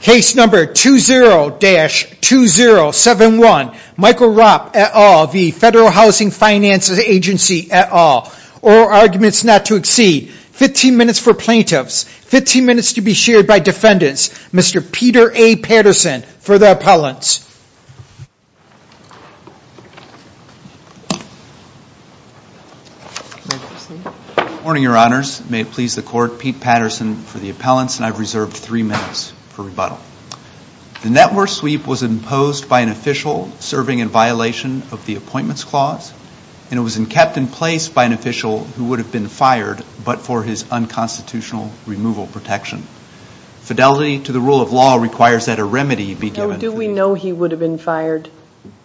Case number 20-2071, Michael Rop et al. v. Federal Housing Finance Agency et al. Oral arguments not to exceed. 15 minutes for plaintiffs, 15 minutes to be shared by defendants. Mr. Peter A. Patterson for the appellants. Good morning, Your Honors. May it please the Court, Pete Patterson for the appellants and I've reserved three minutes for rebuttal. The network sweep was imposed by an official serving in violation of the appointments clause and it was kept in place by an official who would have been fired but for his unconstitutional removal protection. Fidelity to the rule of law requires that a remedy be given. Do we know he would have been fired?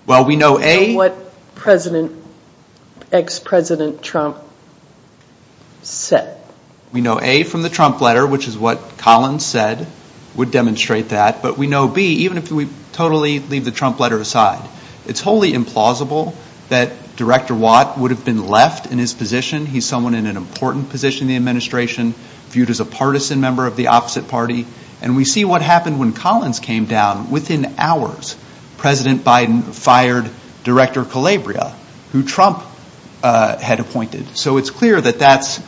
Well, we know A. What President, ex-President Trump said. We know A from the Trump letter, which is what Collins said would demonstrate that. But we know B, even if we totally leave the Trump letter aside, it's wholly implausible that Director Watt would have been left in his position. He's someone in an important position in the administration, viewed as a partisan member of the opposite party. And we see what happened when Collins came down. Within hours, President Biden fired Director Calabria, who Trump had appointed. So it's clear that that's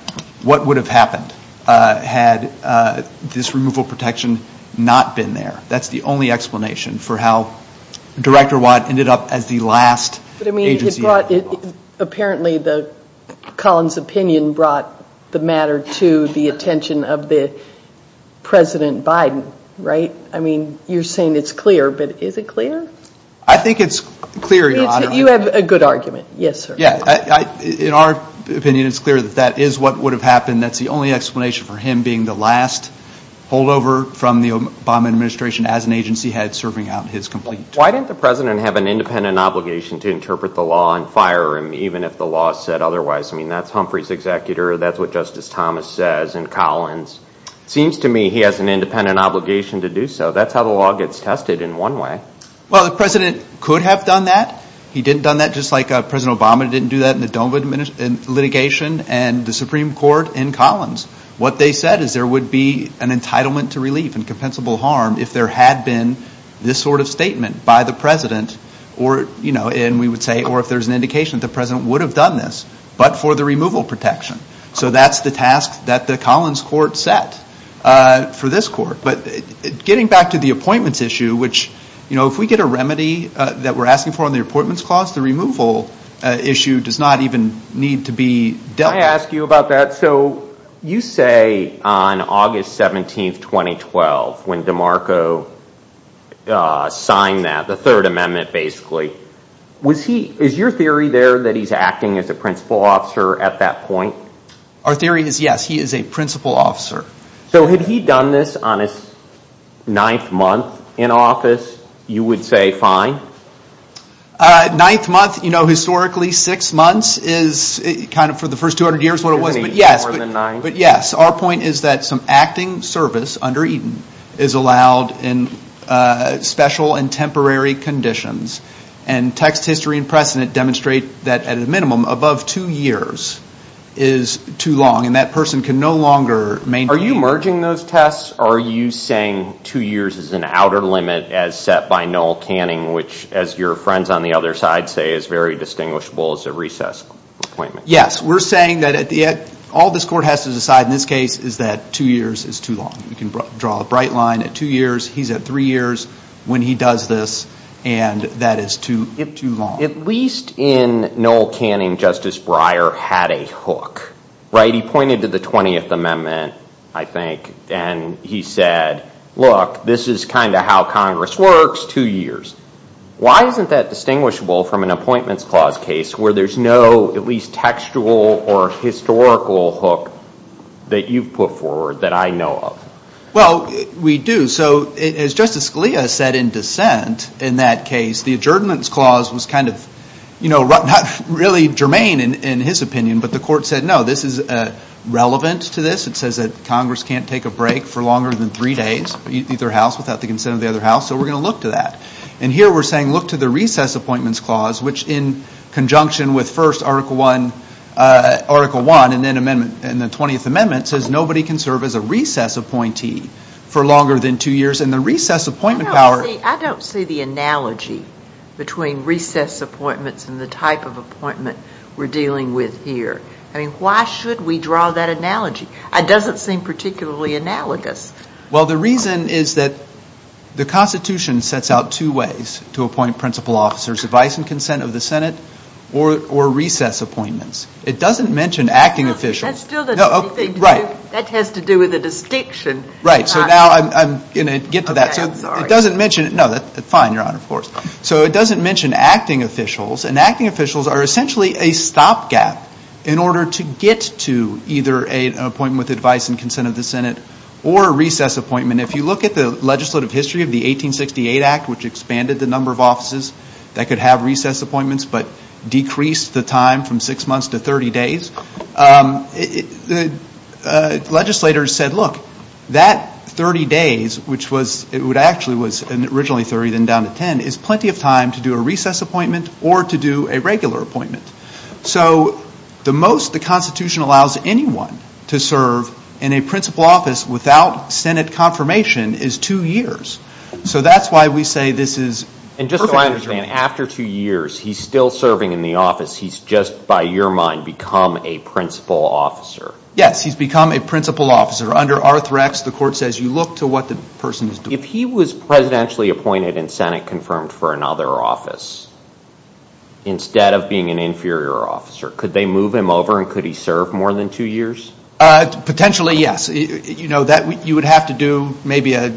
what would have happened had this removal protection not been there. That's the only explanation for how Director Watt ended up as the last agency. Apparently, Collins' opinion brought the matter to the attention of President Biden, right? I mean, you're saying it's clear, but is it clear? I think it's clear, Your Honor. You have a good argument. Yes, sir. In our opinion, it's clear that that is what would have happened. That's the only explanation for him being the last holdover from the Obama administration as an agency head serving out his complaint. Why didn't the President have an independent obligation to interpret the law and fire him, even if the law said otherwise? I mean, that's Humphrey's executor. That's what Justice Thomas says in Collins. It seems to me he has an independent obligation to do so. That's how the law gets tested in one way. Well, the President could have done that. He didn't do that just like President Obama didn't do that in the Dole litigation and the Supreme Court in Collins. What they said is there would be an entitlement to relief and compensable harm if there had been this sort of statement by the President, and we would say, or if there's an indication that the President would have done this, but for the removal protection. So that's the task that the Collins court set for this court. But getting back to the appointments issue, which if we get a remedy that we're asking for on the appointments clause, the removal issue does not even need to be dealt with. I want to ask you about that. So you say on August 17, 2012, when DeMarco signed that, the Third Amendment basically, is your theory there that he's acting as a principal officer at that point? Our theory is yes, he is a principal officer. So had he done this on his ninth month in office, you would say fine? Ninth month, you know, historically six months is kind of for the first 200 years what it was. More than nine. But yes, our point is that some acting service under Eden is allowed in special and temporary conditions. And text history and precedent demonstrate that at a minimum above two years is too long. And that person can no longer maintain. Are you merging those tests? Are you saying two years is an outer limit as set by Noel Canning, which as your friends on the other side say is very distinguishable as a recess appointment? Yes. We're saying that all this court has to decide in this case is that two years is too long. You can draw a bright line at two years. He's at three years when he does this, and that is too long. At least in Noel Canning, Justice Breyer had a hook, right? He pointed to the 20th Amendment, I think, and he said, look, this is kind of how Congress works, two years. Why isn't that distinguishable from an appointments clause case where there's no at least textual or historical hook that you've put forward that I know of? Well, we do. So as Justice Scalia said in dissent in that case, the adjournance clause was kind of, you know, not really germane in his opinion, but the court said, no, this is relevant to this. It says that Congress can't take a break for longer than three days, either house, without the consent of the other house, so we're going to look to that. And here we're saying look to the recess appointments clause, which in conjunction with first Article I and then the 20th Amendment, says nobody can serve as a recess appointee for longer than two years, and the recess appointment power. I don't see the analogy between recess appointments and the type of appointment we're dealing with here. I mean, why should we draw that analogy? It doesn't seem particularly analogous. Well, the reason is that the Constitution sets out two ways to appoint principal officers, advice and consent of the Senate or recess appointments. It doesn't mention acting officials. That has to do with the distinction. Right. So now I'm going to get to that. Fine, Your Honor, of course. So it doesn't mention acting officials, and acting officials are essentially a stopgap in order to get to either an appointment with advice and consent of the Senate or a recess appointment. If you look at the legislative history of the 1868 Act, which expanded the number of offices that could have recess appointments but decreased the time from six months to 30 days, the legislators said, look, that 30 days, which actually was originally 30, then down to 10, is plenty of time to do a recess appointment or to do a regular appointment. So the most the Constitution allows anyone to serve in a principal office without Senate confirmation is two years. So that's why we say this is perfectly reasonable. And just so I understand, after two years, he's still serving in the office. He's just, by your mind, become a principal officer. Yes, he's become a principal officer. Under Arthrex, the court says you look to what the person is doing. If he was presidentially appointed and Senate confirmed for another office, instead of being an inferior officer, could they move him over and could he serve more than two years? Potentially, yes. You would have to do maybe a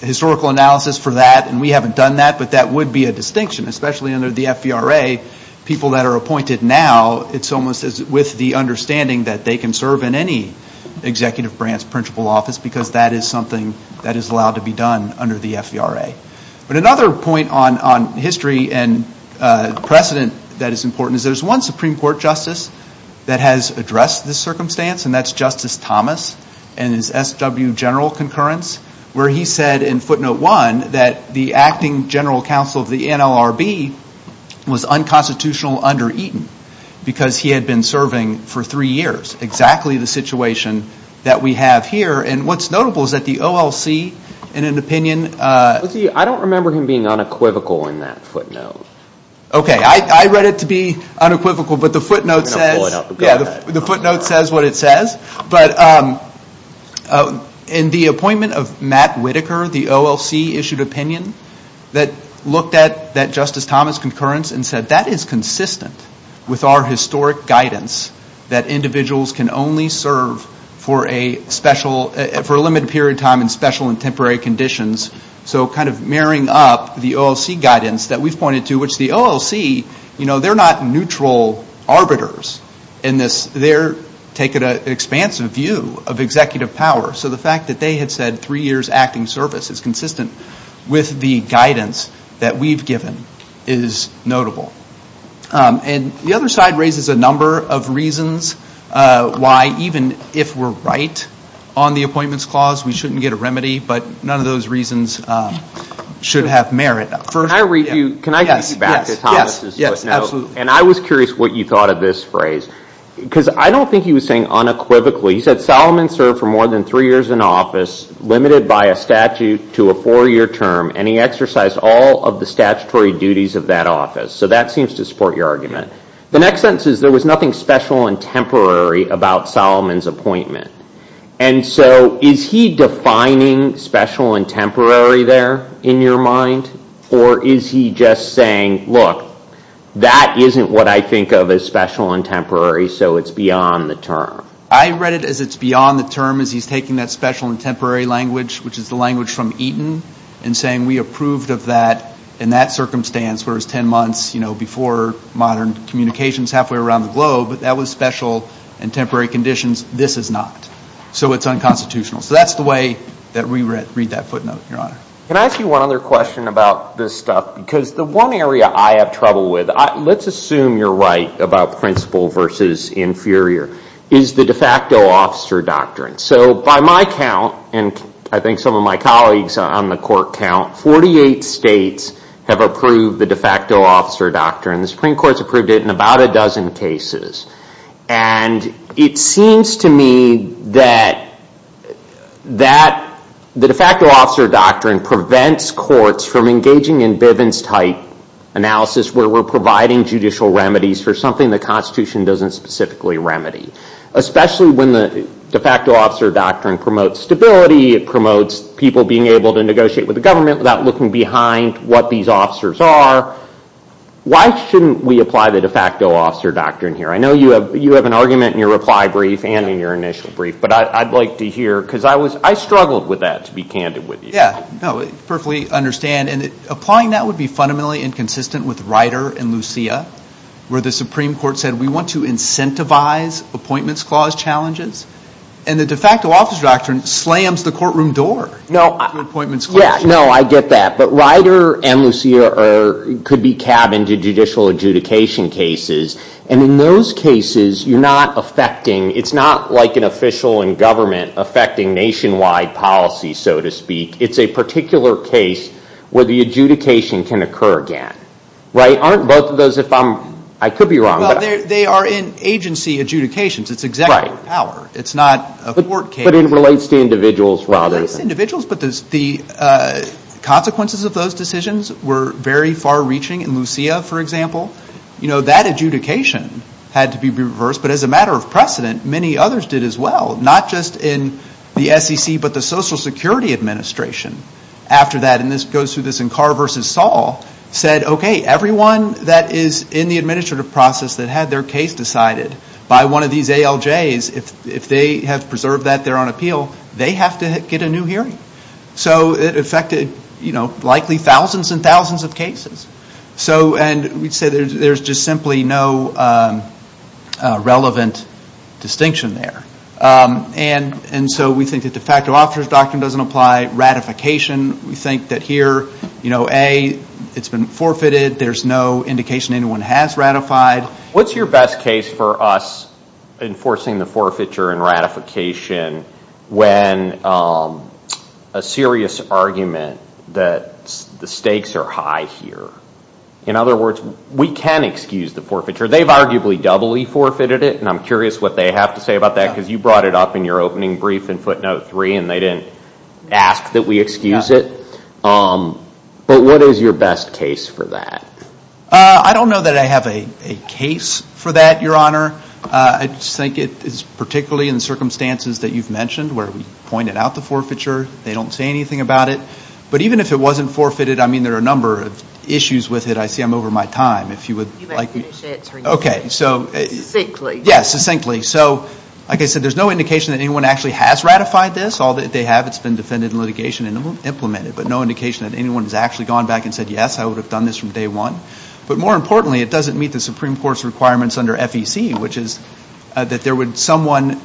historical analysis for that, and we haven't done that, but that would be a distinction, especially under the FVRA, people that are appointed now, it's almost as with the understanding that they can serve in any executive branch principal office because that is something that is allowed to be done under the FVRA. But another point on history and precedent that is important is there's one Supreme Court justice that has addressed this circumstance, and that's Justice Thomas and his SW general concurrence, where he said in footnote one that the acting general counsel of the NLRB was unconstitutional under Eaton because he had been serving for three years, exactly the situation that we have here, and what's notable is that the OLC, in an opinion... I don't remember him being unequivocal in that footnote. Okay, I read it to be unequivocal, but the footnote says what it says. But in the appointment of Matt Whitaker, the OLC issued opinion that looked at that Justice Thomas concurrence and said that is consistent with our historic guidance that individuals can only serve for a limited period of time in special and temporary conditions. So kind of mirroring up the OLC guidance that we've pointed to, which the OLC, they're not neutral arbiters in this. They're taking an expansive view of executive power. So the fact that they had said three years acting service is consistent with the guidance that we've given is notable. And the other side raises a number of reasons why even if we're right on the appointments clause, we shouldn't get a remedy, but none of those reasons should have merit. Can I read you back to Thomas' footnote? Yes, absolutely. And I was curious what you thought of this phrase. Because I don't think he was saying unequivocally. He said Solomon served for more than three years in office, limited by a statute to a four-year term, and he exercised all of the statutory duties of that office. So that seems to support your argument. The next sentence is there was nothing special and temporary about Solomon's appointment. And so is he defining special and temporary there in your mind? Or is he just saying, look, that isn't what I think of as special and temporary, so it's beyond the term? I read it as it's beyond the term, as he's taking that special and temporary language, which is the language from Eaton, and saying we approved of that in that circumstance, where it was ten months before modern communications halfway around the globe, but that was special and temporary conditions. This is not. So it's unconstitutional. So that's the way that we read that footnote, Your Honor. Can I ask you one other question about this stuff? Because the one area I have trouble with, let's assume you're right about principal versus inferior, is the de facto officer doctrine. So by my count, and I think some of my colleagues on the court count, 48 states have approved the de facto officer doctrine. The Supreme Court's approved it in about a dozen cases. And it seems to me that the de facto officer doctrine prevents courts from engaging in Bivens-type analysis, where we're providing judicial remedies for something the Constitution doesn't specifically remedy, especially when the de facto officer doctrine promotes stability, it promotes people being able to negotiate with the government without looking behind what these officers are. Why shouldn't we apply the de facto officer doctrine here? I know you have an argument in your reply brief and in your initial brief, but I'd like to hear, because I struggled with that, to be candid with you. Yeah, no, I perfectly understand. And applying that would be fundamentally inconsistent with Ryder and Lucia, where the Supreme Court said we want to incentivize appointments clause challenges. And the de facto officer doctrine slams the courtroom door. No, I get that. But Ryder and Lucia could be cabined to judicial adjudication cases. And in those cases, it's not like an official in government affecting nationwide policy, so to speak. It's a particular case where the adjudication can occur again. Aren't both of those, if I'm, I could be wrong. Well, they are in agency adjudications. It's executive power. It's not a court case. But it relates to individuals rather than. Not just individuals, but the consequences of those decisions were very far-reaching in Lucia, for example. You know, that adjudication had to be reversed. But as a matter of precedent, many others did as well. Not just in the SEC, but the Social Security Administration after that. And this goes through this in Carr v. Saul, said, okay, everyone that is in the administrative process that had their case decided by one of these ALJs, if they have preserved that, they're on appeal, they have to get a new hearing. So it affected, you know, likely thousands and thousands of cases. So, and we'd say there's just simply no relevant distinction there. And so we think that the facto officer's doctrine doesn't apply. Ratification, we think that here, you know, A, it's been forfeited. There's no indication anyone has ratified. What's your best case for us enforcing the forfeiture and ratification when a serious argument that the stakes are high here? In other words, we can excuse the forfeiture. They've arguably doubly forfeited it. And I'm curious what they have to say about that because you brought it up in your opening brief in footnote three and they didn't ask that we excuse it. But what is your best case for that? I don't know that I have a case for that, Your Honor. I just think it is particularly in the circumstances that you've mentioned where we pointed out the forfeiture. They don't say anything about it. But even if it wasn't forfeited, I mean, there are a number of issues with it. I see I'm over my time. If you would like to finish it. Okay, so. Succinctly. Yes, succinctly. So, like I said, there's no indication that anyone actually has ratified this. All that they have, it's been defended in litigation and implemented. But no indication that anyone has actually gone back and said, yes, I would have done this from day one. But more importantly, it doesn't meet the Supreme Court's requirements under FEC, which is that there would someone,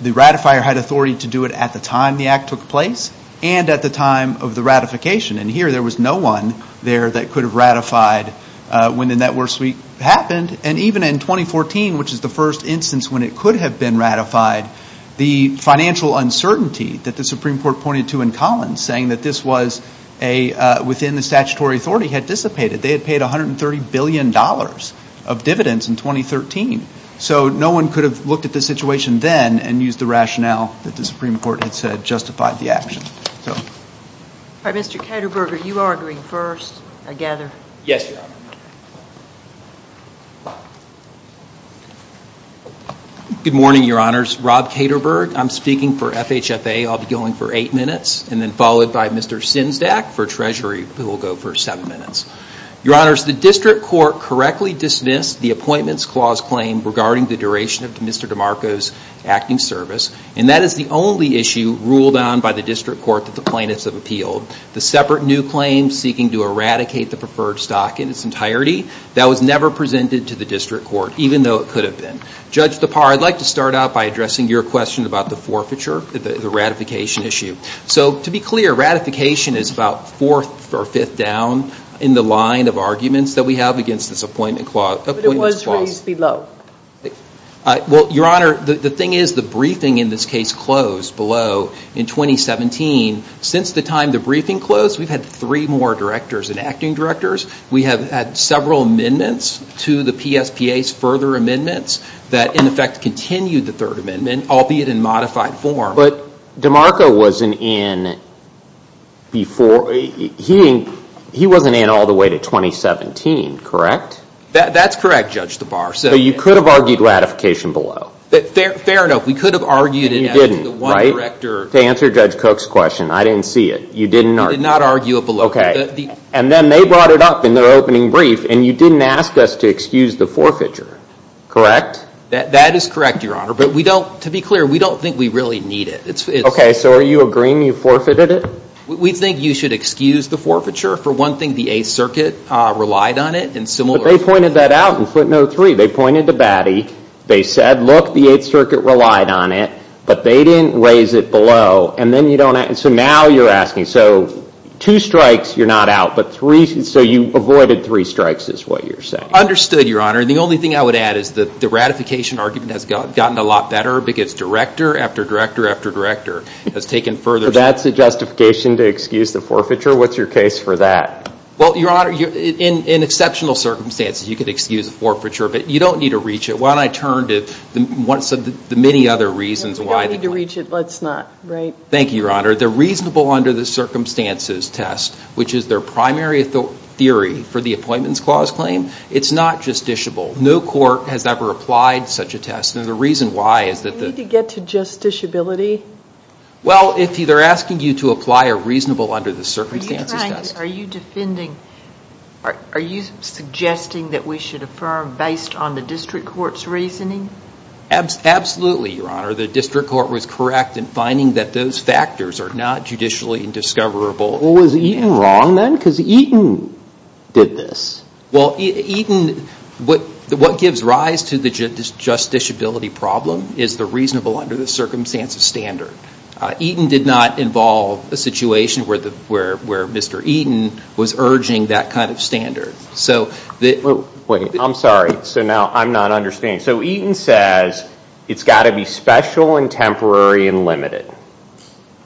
the ratifier had authority to do it at the time the act took place and at the time of the ratification. And here there was no one there that could have ratified when the network sweep happened. And even in 2014, which is the first instance when it could have been ratified, the financial uncertainty that the Supreme Court pointed to in Collins, saying that this was within the statutory authority, had dissipated. They had paid $130 billion of dividends in 2013. So no one could have looked at the situation then and used the rationale that the Supreme Court had said justified the action. All right, Mr. Kederberger, you are going first, I gather. Yes, Your Honor. Good morning, Your Honors. Rob Kederberger, I'm speaking for FHFA. I'll be going for eight minutes, and then followed by Mr. Sinzdak for Treasury, who will go for seven minutes. Your Honors, the District Court correctly dismissed the Appointments Clause claim regarding the duration of Mr. DeMarco's acting service, and that is the only issue ruled on by the District Court that the plaintiffs have appealed. The separate new claim seeking to eradicate the preferred stock in its entirety, that was never presented to the District Court, even though it could have been. Judge DePauw, I'd like to start out by addressing your question about the forfeiture, the ratification issue. So to be clear, ratification is about fourth or fifth down in the line of arguments that we have against this Appointments Clause. But it was raised below. Well, Your Honor, the thing is the briefing in this case closed below in 2017. Since the time the briefing closed, we've had three more directors and acting directors. We have had several amendments to the PSPA's further amendments that in effect continued the third amendment, albeit in modified form. But DeMarco wasn't in before. He wasn't in all the way to 2017, correct? That's correct, Judge DePauw. So you could have argued ratification below? Fair enough. We could have argued it after the one director. To answer Judge Cook's question, I didn't see it. You did not argue it below. Okay. And then they brought it up in their opening brief, and you didn't ask us to excuse the forfeiture, correct? That is correct, Your Honor. But to be clear, we don't think we really need it. Okay. So are you agreeing you forfeited it? We think you should excuse the forfeiture. For one thing, the Eighth Circuit relied on it. But they pointed that out in footnote three. They pointed to Batty. They said, look, the Eighth Circuit relied on it. But they didn't raise it below. And so now you're asking. So two strikes, you're not out. So you avoided three strikes is what you're saying. Understood, Your Honor. And the only thing I would add is the ratification argument has gotten a lot better because director after director after director has taken further. So that's a justification to excuse the forfeiture? What's your case for that? Well, Your Honor, in exceptional circumstances, you could excuse the forfeiture. But you don't need to reach it. Why don't I turn to the many other reasons why. You don't need to reach it. Let's not. Thank you, Your Honor. The reasonable under the circumstances test, which is their primary theory for the Appointments Clause claim, it's not justiciable. No court has ever applied such a test. And the reason why is that the... Do you need to get to justiciability? Well, they're asking you to apply a reasonable under the circumstances test. Are you defending... Are you suggesting that we should affirm based on the district court's reasoning? Absolutely, Your Honor. The district court was correct in finding that those factors are not judicially discoverable. Well, was Eaton wrong then? Because Eaton did this. Well, Eaton... What gives rise to the justiciability problem is the reasonable under the circumstances standard. Eaton did not involve a situation where Mr. Eaton was urging that kind of standard. Wait, I'm sorry. So now I'm not understanding. So Eaton says it's got to be special and temporary and limited,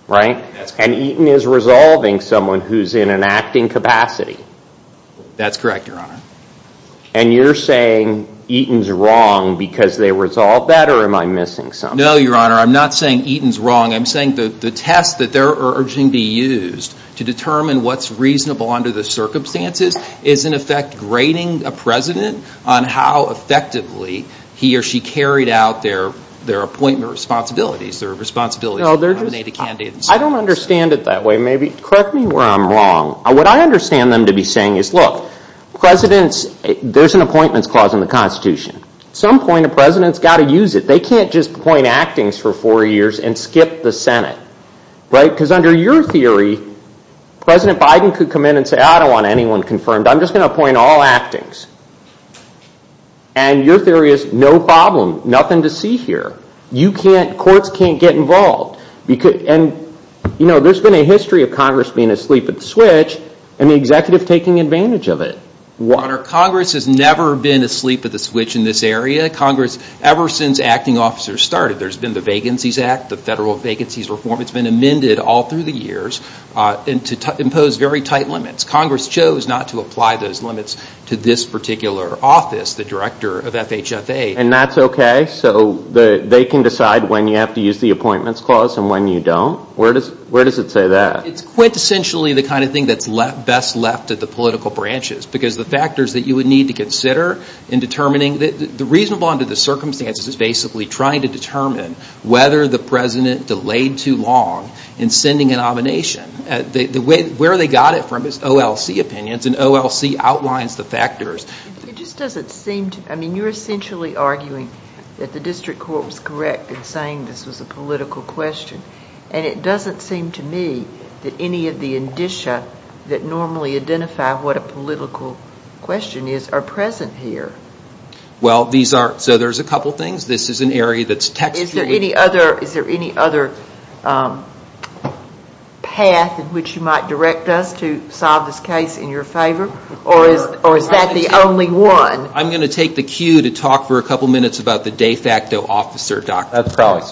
right? And Eaton is resolving someone who's in an acting capacity. That's correct, Your Honor. And you're saying Eaton's wrong because they resolved that, or am I missing something? No, Your Honor. I'm not saying Eaton's wrong. I'm saying the test that they're urging be used to determine what's reasonable under the circumstances is, in effect, grading a president on how effectively he or she carried out their appointment responsibilities, their responsibility to nominate a candidate. I don't understand it that way. Maybe correct me where I'm wrong. What I understand them to be saying is, look, presidents... There's an appointments clause in the Constitution. At some point, a president's got to use it. They can't just appoint actings for four years and skip the Senate, right? Because under your theory, President Biden could come in and say, I don't want anyone confirmed. I'm just going to appoint all actings. And your theory is, no problem. Nothing to see here. Courts can't get involved. And, you know, there's been a history of Congress being asleep at the switch and the executive taking advantage of it. Your Honor, Congress has never been asleep at the switch in this area. Congress, ever since acting officers started, there's been the Vacancies Act, the federal vacancies reform. It's been amended all through the years to impose very tight limits. Congress chose not to apply those limits to this particular office, the director of FHFA. And that's okay? So they can decide when you have to use the appointments clause and when you don't? Where does it say that? It's quintessentially the kind of thing that's best left to the political branches because the factors that you would need to consider in determining the reasonable under the circumstances is basically trying to determine whether the president delayed too long in sending a nomination. Where they got it from is OLC opinions, and OLC outlines the factors. It just doesn't seem to me. I mean, you're essentially arguing that the district court was correct in saying this was a political question. And it doesn't seem to me that any of the indicia that normally identify what a political question is are present here. Well, these aren't. So there's a couple things. This is an area that's textual. Is there any other path in which you might direct us to solve this case in your favor? Or is that the only one? I'm going to take the cue to talk for a couple minutes about the de facto officer, Dr. Crowley.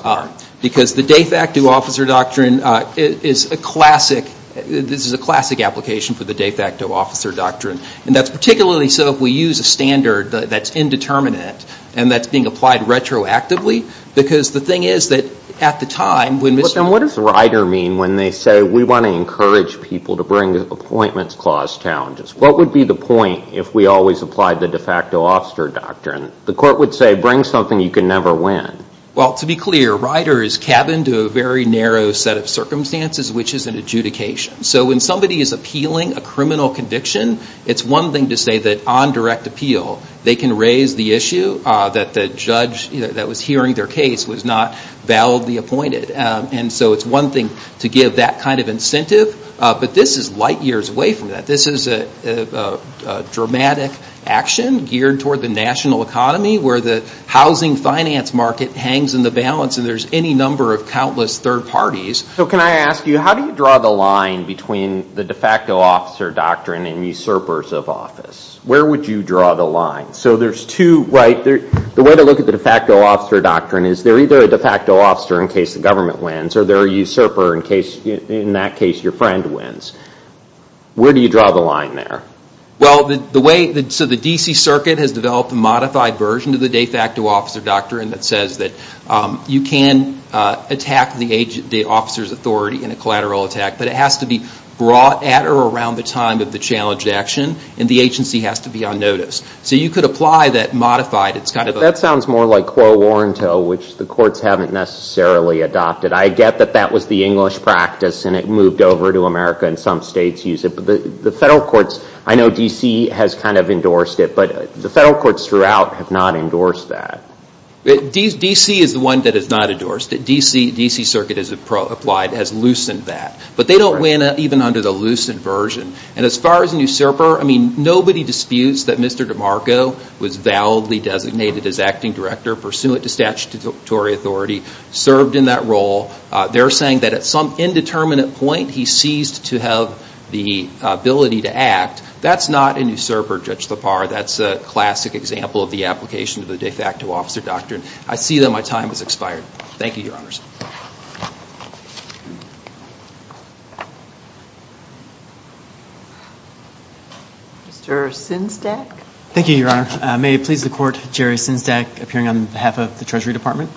Because the de facto officer doctrine is a classic. This is a classic application for the de facto officer doctrine. And that's particularly so if we use a standard that's indeterminate and that's being applied retroactively. Because the thing is that at the time when Mr. But then what does Ryder mean when they say we want to encourage people to bring appointments clause challenges? What would be the point if we always applied the de facto officer doctrine? The court would say bring something you can never win. Well, to be clear, Ryder is cabined to a very narrow set of circumstances, which is an adjudication. So when somebody is appealing a criminal conviction, it's one thing to say that on direct appeal, they can raise the issue that the judge that was hearing their case was not validly appointed. And so it's one thing to give that kind of incentive. But this is light years away from that. This is a dramatic action geared toward the national economy where the housing finance market hangs in the balance and there's any number of countless third parties. So can I ask you, how do you draw the line between the de facto officer doctrine and usurpers of office? Where would you draw the line? So there's two, right? The way to look at the de facto officer doctrine is they're either a de facto officer in case the government wins or they're a usurper in case in that case your friend wins. Where do you draw the line there? Well, so the D.C. Circuit has developed a modified version of the de facto officer doctrine that says that you can attack the officer's authority in a collateral attack, but it has to be brought at or around the time of the challenged action and the agency has to be on notice. So you could apply that modified. That sounds more like quo warranto, which the courts haven't necessarily adopted. I get that that was the English practice and it moved over to America and some states use it, but the federal courts, I know D.C. has kind of endorsed it, but the federal courts throughout have not endorsed that. D.C. is the one that has not endorsed it. D.C. Circuit has applied, has loosened that. But they don't win even under the loosened version. And as far as a usurper, I mean, nobody disputes that Mr. DeMarco was validly designated as acting director, pursuant to statutory authority, served in that role. They're saying that at some indeterminate point he ceased to have the ability to act. That's not a usurper, Judge Lepar. That's a classic example of the application of the de facto officer doctrine. I see that my time has expired. Thank you, Your Honors. Mr. Sinsdak? Thank you, Your Honor. May it please the Court, Jerry Sinsdak, appearing on behalf of the Treasury Department.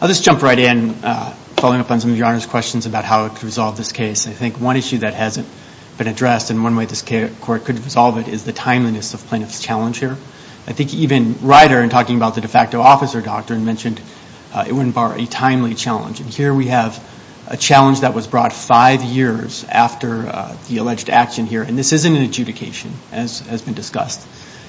I'll just jump right in, following up on some of Your Honor's questions about how to resolve this case. I think one issue that hasn't been addressed and one way this court could resolve it is the timeliness of plaintiff's challenge here. I think even Ryder, in talking about the de facto officer doctrine, mentioned it wouldn't bar a timely challenge. And here we have a challenge that was brought five years after the alleged action here. And this isn't an adjudication, as has been discussed.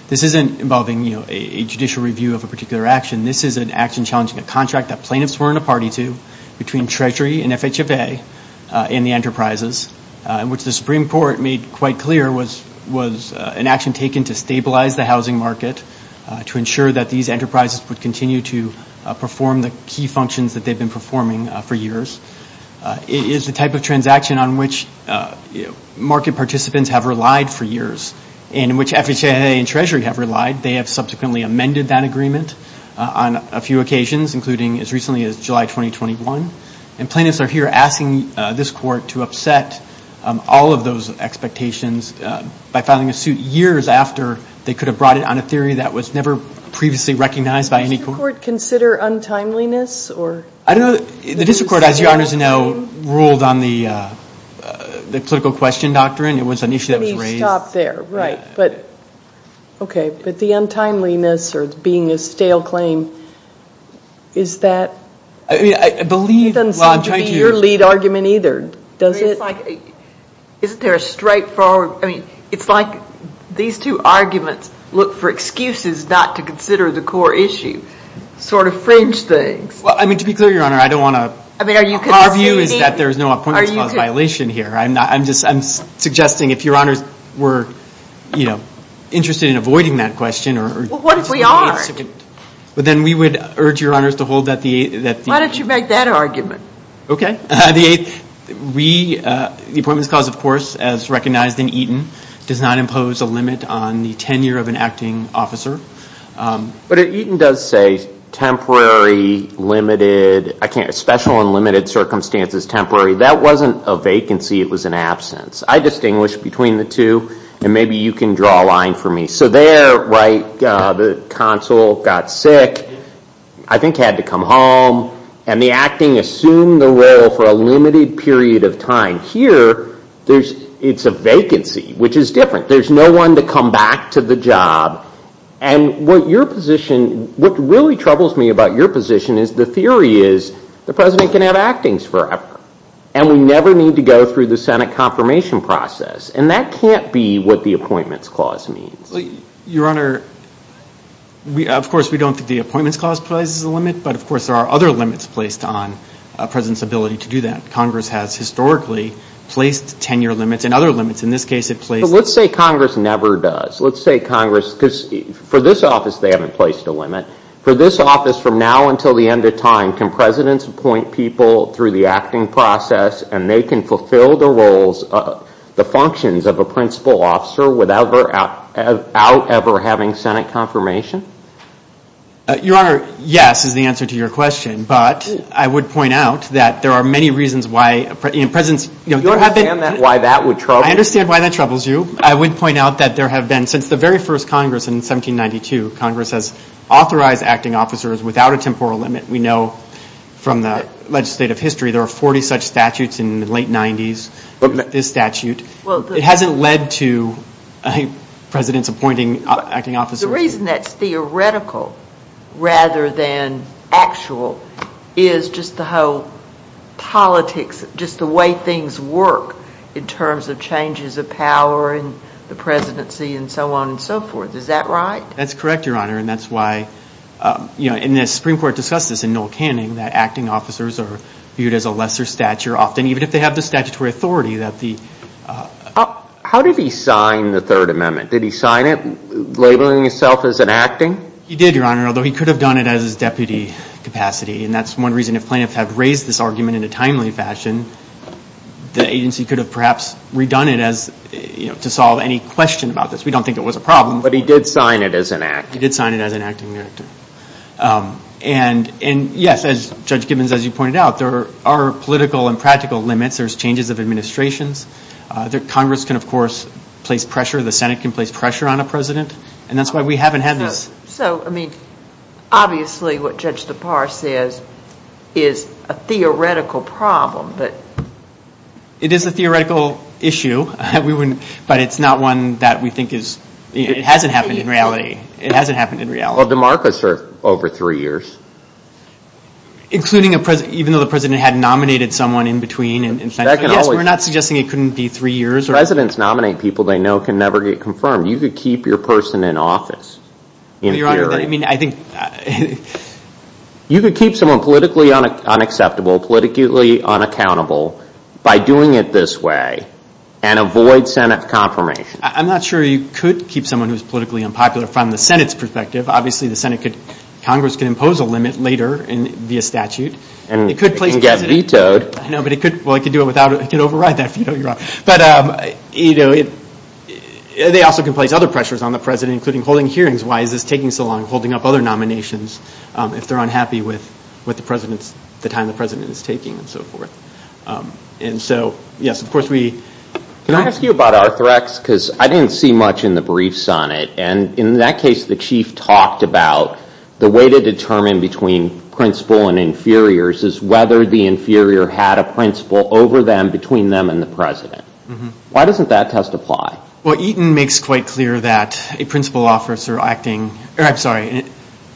This isn't involving a judicial review of a particular action. This is an action challenging a contract that plaintiffs were in a party to between Treasury and FHFA and the enterprises, which the Supreme Court made quite clear was an action taken to stabilize the housing market, to ensure that these enterprises would continue to perform the key functions that they've been performing for years. It is the type of transaction on which market participants have relied for years and which FHFA and Treasury have relied. They have subsequently amended that agreement on a few occasions, including as recently as July 2021. And plaintiffs are here asking this court to upset all of those expectations by filing a suit years after they could have brought it on a theory that was never previously recognized by any court. Does the court consider untimeliness? I don't know. The district court, as your honors know, ruled on the political question doctrine. It was an issue that was raised. Let me stop there. Right. Okay. But the untimeliness or being a stale claim, is that? I believe. It doesn't seem to be your lead argument either, does it? Isn't there a straightforward? I mean, it's like these two arguments look for excuses not to consider the core issue. Sort of fringe things. Well, I mean, to be clear, your honor, I don't want to. Our view is that there is no appointments clause violation here. I'm just suggesting if your honors were interested in avoiding that question. What if we are? But then we would urge your honors to hold that the. Why don't you make that argument? Okay. The appointments clause, of course, as recognized in Eaton, does not impose a limit on the tenure of an acting officer. But Eaton does say temporary, limited, special and limited circumstances, temporary. That wasn't a vacancy. It was an absence. I distinguish between the two, and maybe you can draw a line for me. So there, right, the consul got sick, I think had to come home, and the acting assumed the role for a limited period of time. Here, it's a vacancy, which is different. There's no one to come back to the job. And what your position, what really troubles me about your position is the theory is the president can have actings forever. And we never need to go through the Senate confirmation process. And that can't be what the appointments clause means. Your honor, of course, we don't think the appointments clause places a limit. But, of course, there are other limits placed on a president's ability to do that. Congress has historically placed tenure limits and other limits. In this case, it places But let's say Congress never does. Let's say Congress, because for this office, they haven't placed a limit. For this office, from now until the end of time, can presidents appoint people through the acting process, and they can fulfill the roles, the functions of a principal officer without ever having Senate confirmation? Your honor, yes is the answer to your question. But I would point out that there are many reasons why presidents Do you understand why that would trouble you? I understand why that troubles you. I would point out that there have been, since the very first Congress in 1792, Congress has authorized acting officers without a temporal limit. We know from the legislative history there are 40 such statutes in the late 90s, this statute. It hasn't led to presidents appointing acting officers. The reason that's theoretical rather than actual is just the whole politics, just the way things work in terms of changes of power and the presidency and so on and so forth. Is that right? That's correct, your honor, and that's why, you know, and the Supreme Court discussed this in Noel Canning, that acting officers are viewed as a lesser stature often, even if they have the statutory authority that the How did he sign the Third Amendment? Did he sign it labeling himself as an acting? He did, your honor, although he could have done it as his deputy capacity, and that's one reason if plaintiffs had raised this argument in a timely fashion, the agency could have perhaps redone it as, you know, to solve any question about this. We don't think it was a problem. But he did sign it as an acting. He did sign it as an acting. And yes, as Judge Gibbons, as you pointed out, there are political and practical limits. There's changes of administrations. Congress can, of course, place pressure. The Senate can place pressure on a president, and that's why we haven't had this. So, I mean, obviously what Judge DePauw says is a theoretical problem, but. It is a theoretical issue, but it's not one that we think is. It hasn't happened in reality. It hasn't happened in reality. Well, DeMarcus served over three years. Including a president, even though the president had nominated someone in between. Yes, we're not suggesting it couldn't be three years. Presidents nominate people they know can never get confirmed. You could keep your person in office, in theory. Your Honor, I mean, I think. You could keep someone politically unacceptable, politically unaccountable by doing it this way and avoid Senate confirmation. I'm not sure you could keep someone who's politically unpopular from the Senate's perspective. Obviously, the Senate could, Congress could impose a limit later via statute. And get vetoed. I know, but it could, well, it could do it without, it could override that veto, Your Honor. But, you know, they also can place other pressures on the president, including holding hearings. Why is this taking so long? Holding up other nominations if they're unhappy with the time the president is taking and so forth. And so, yes, of course we. Can I ask you about Arthrex? Because I didn't see much in the briefs on it. And in that case, the chief talked about the way to determine between principal and inferiors is whether the inferior had a principal over them between them and the president. Why doesn't that test apply? Well, Eaton makes quite clear that a principal officer acting, or I'm sorry,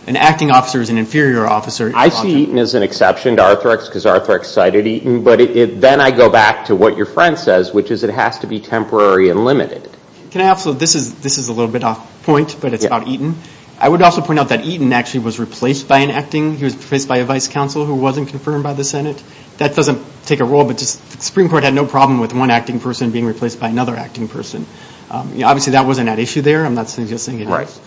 an acting officer is an inferior officer. I see Eaton as an exception to Arthrex because Arthrex cited Eaton. But then I go back to what your friend says, which is it has to be temporary and limited. Can I also, this is a little bit off point, but it's about Eaton. I would also point out that Eaton actually was replaced by an acting, he was replaced by a vice counsel who wasn't confirmed by the Senate. That doesn't take a role, but the Supreme Court had no problem with one acting person being replaced by another acting person. Obviously that wasn't at issue there. I'm not suggesting it is.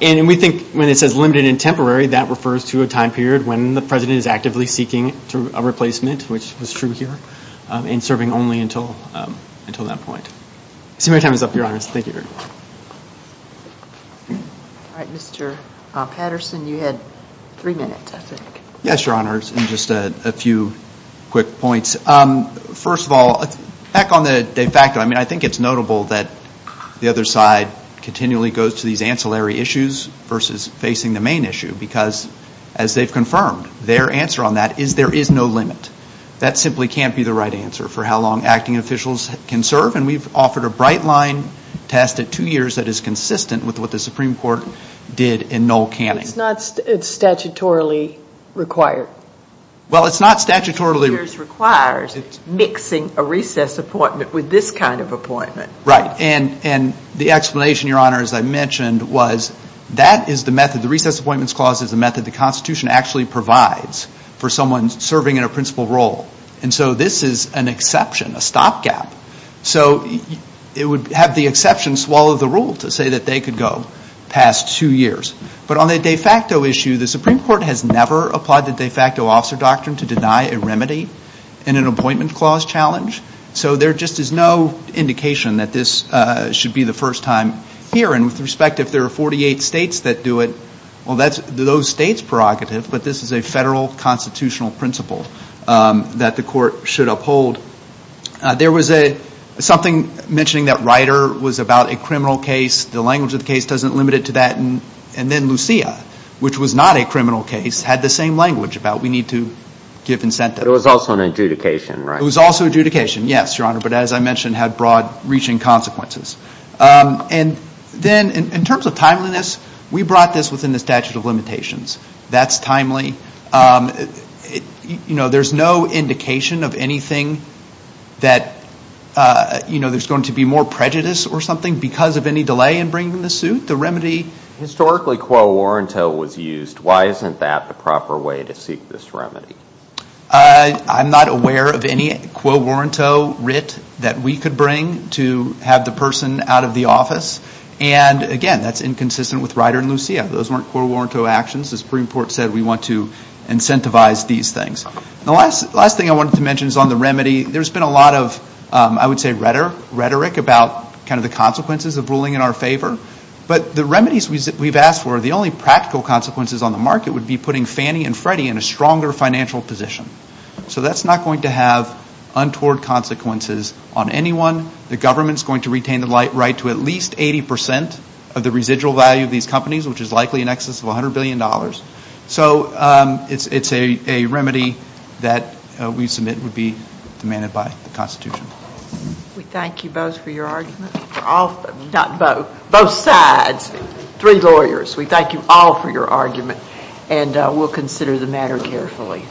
And we think when it says limited and temporary, that refers to a time period when the president is actively seeking a replacement, which was true here, and serving only until that point. I see my time is up, Your Honors. Thank you. All right, Mr. Patterson, you had three minutes, I think. Yes, Your Honors, and just a few quick points. First of all, back on the de facto, I mean, I think it's notable that the other side continually goes to these ancillary issues versus facing the main issue because, as they've confirmed, their answer on that is there is no limit. That simply can't be the right answer for how long acting officials can serve, and we've offered a bright line test at two years that is consistent with what the Supreme Court did in Noel Canning. It's not statutorily required. Well, it's not statutorily required. It requires mixing a recess appointment with this kind of appointment. Right, and the explanation, Your Honors, I mentioned was that is the method, the Recess Appointments Clause is the method the Constitution actually provides for someone serving in a principal role. And so this is an exception, a stopgap. So it would have the exception swallow the rule to say that they could go past two years. But on the de facto issue, the Supreme Court has never applied the de facto officer doctrine to deny a remedy in an appointment clause challenge. So there just is no indication that this should be the first time here. And with respect, if there are 48 states that do it, well, that's those states' prerogative, but this is a federal constitutional principle that the court should uphold. There was something mentioning that Ryder was about a criminal case. The language of the case doesn't limit it to that. And then Lucia, which was not a criminal case, had the same language about we need to give incentive. It was also an adjudication, right? It was also adjudication, yes, Your Honor, but as I mentioned, had broad reaching consequences. And then in terms of timeliness, we brought this within the statute of limitations. That's timely. You know, there's no indication of anything that, you know, there's going to be more prejudice or something because of any delay in bringing the suit. The remedy historically quo warranto was used. Why isn't that the proper way to seek this remedy? I'm not aware of any quo warranto writ that we could bring to have the person out of the office. And, again, that's inconsistent with Ryder and Lucia. Those weren't quo warranto actions. The Supreme Court said we want to incentivize these things. The last thing I wanted to mention is on the remedy. There's been a lot of, I would say, rhetoric about kind of the consequences of ruling in our favor. But the remedies we've asked for, the only practical consequences on the market, would be putting Fannie and Freddie in a stronger financial position. So that's not going to have untoward consequences on anyone. The government's going to retain the right to at least 80% of the residual value of these companies, which is likely in excess of $100 billion. So it's a remedy that we submit would be demanded by the Constitution. We thank you both for your argument. Not both, both sides. Three lawyers. We thank you all for your argument, and we'll consider the matter carefully.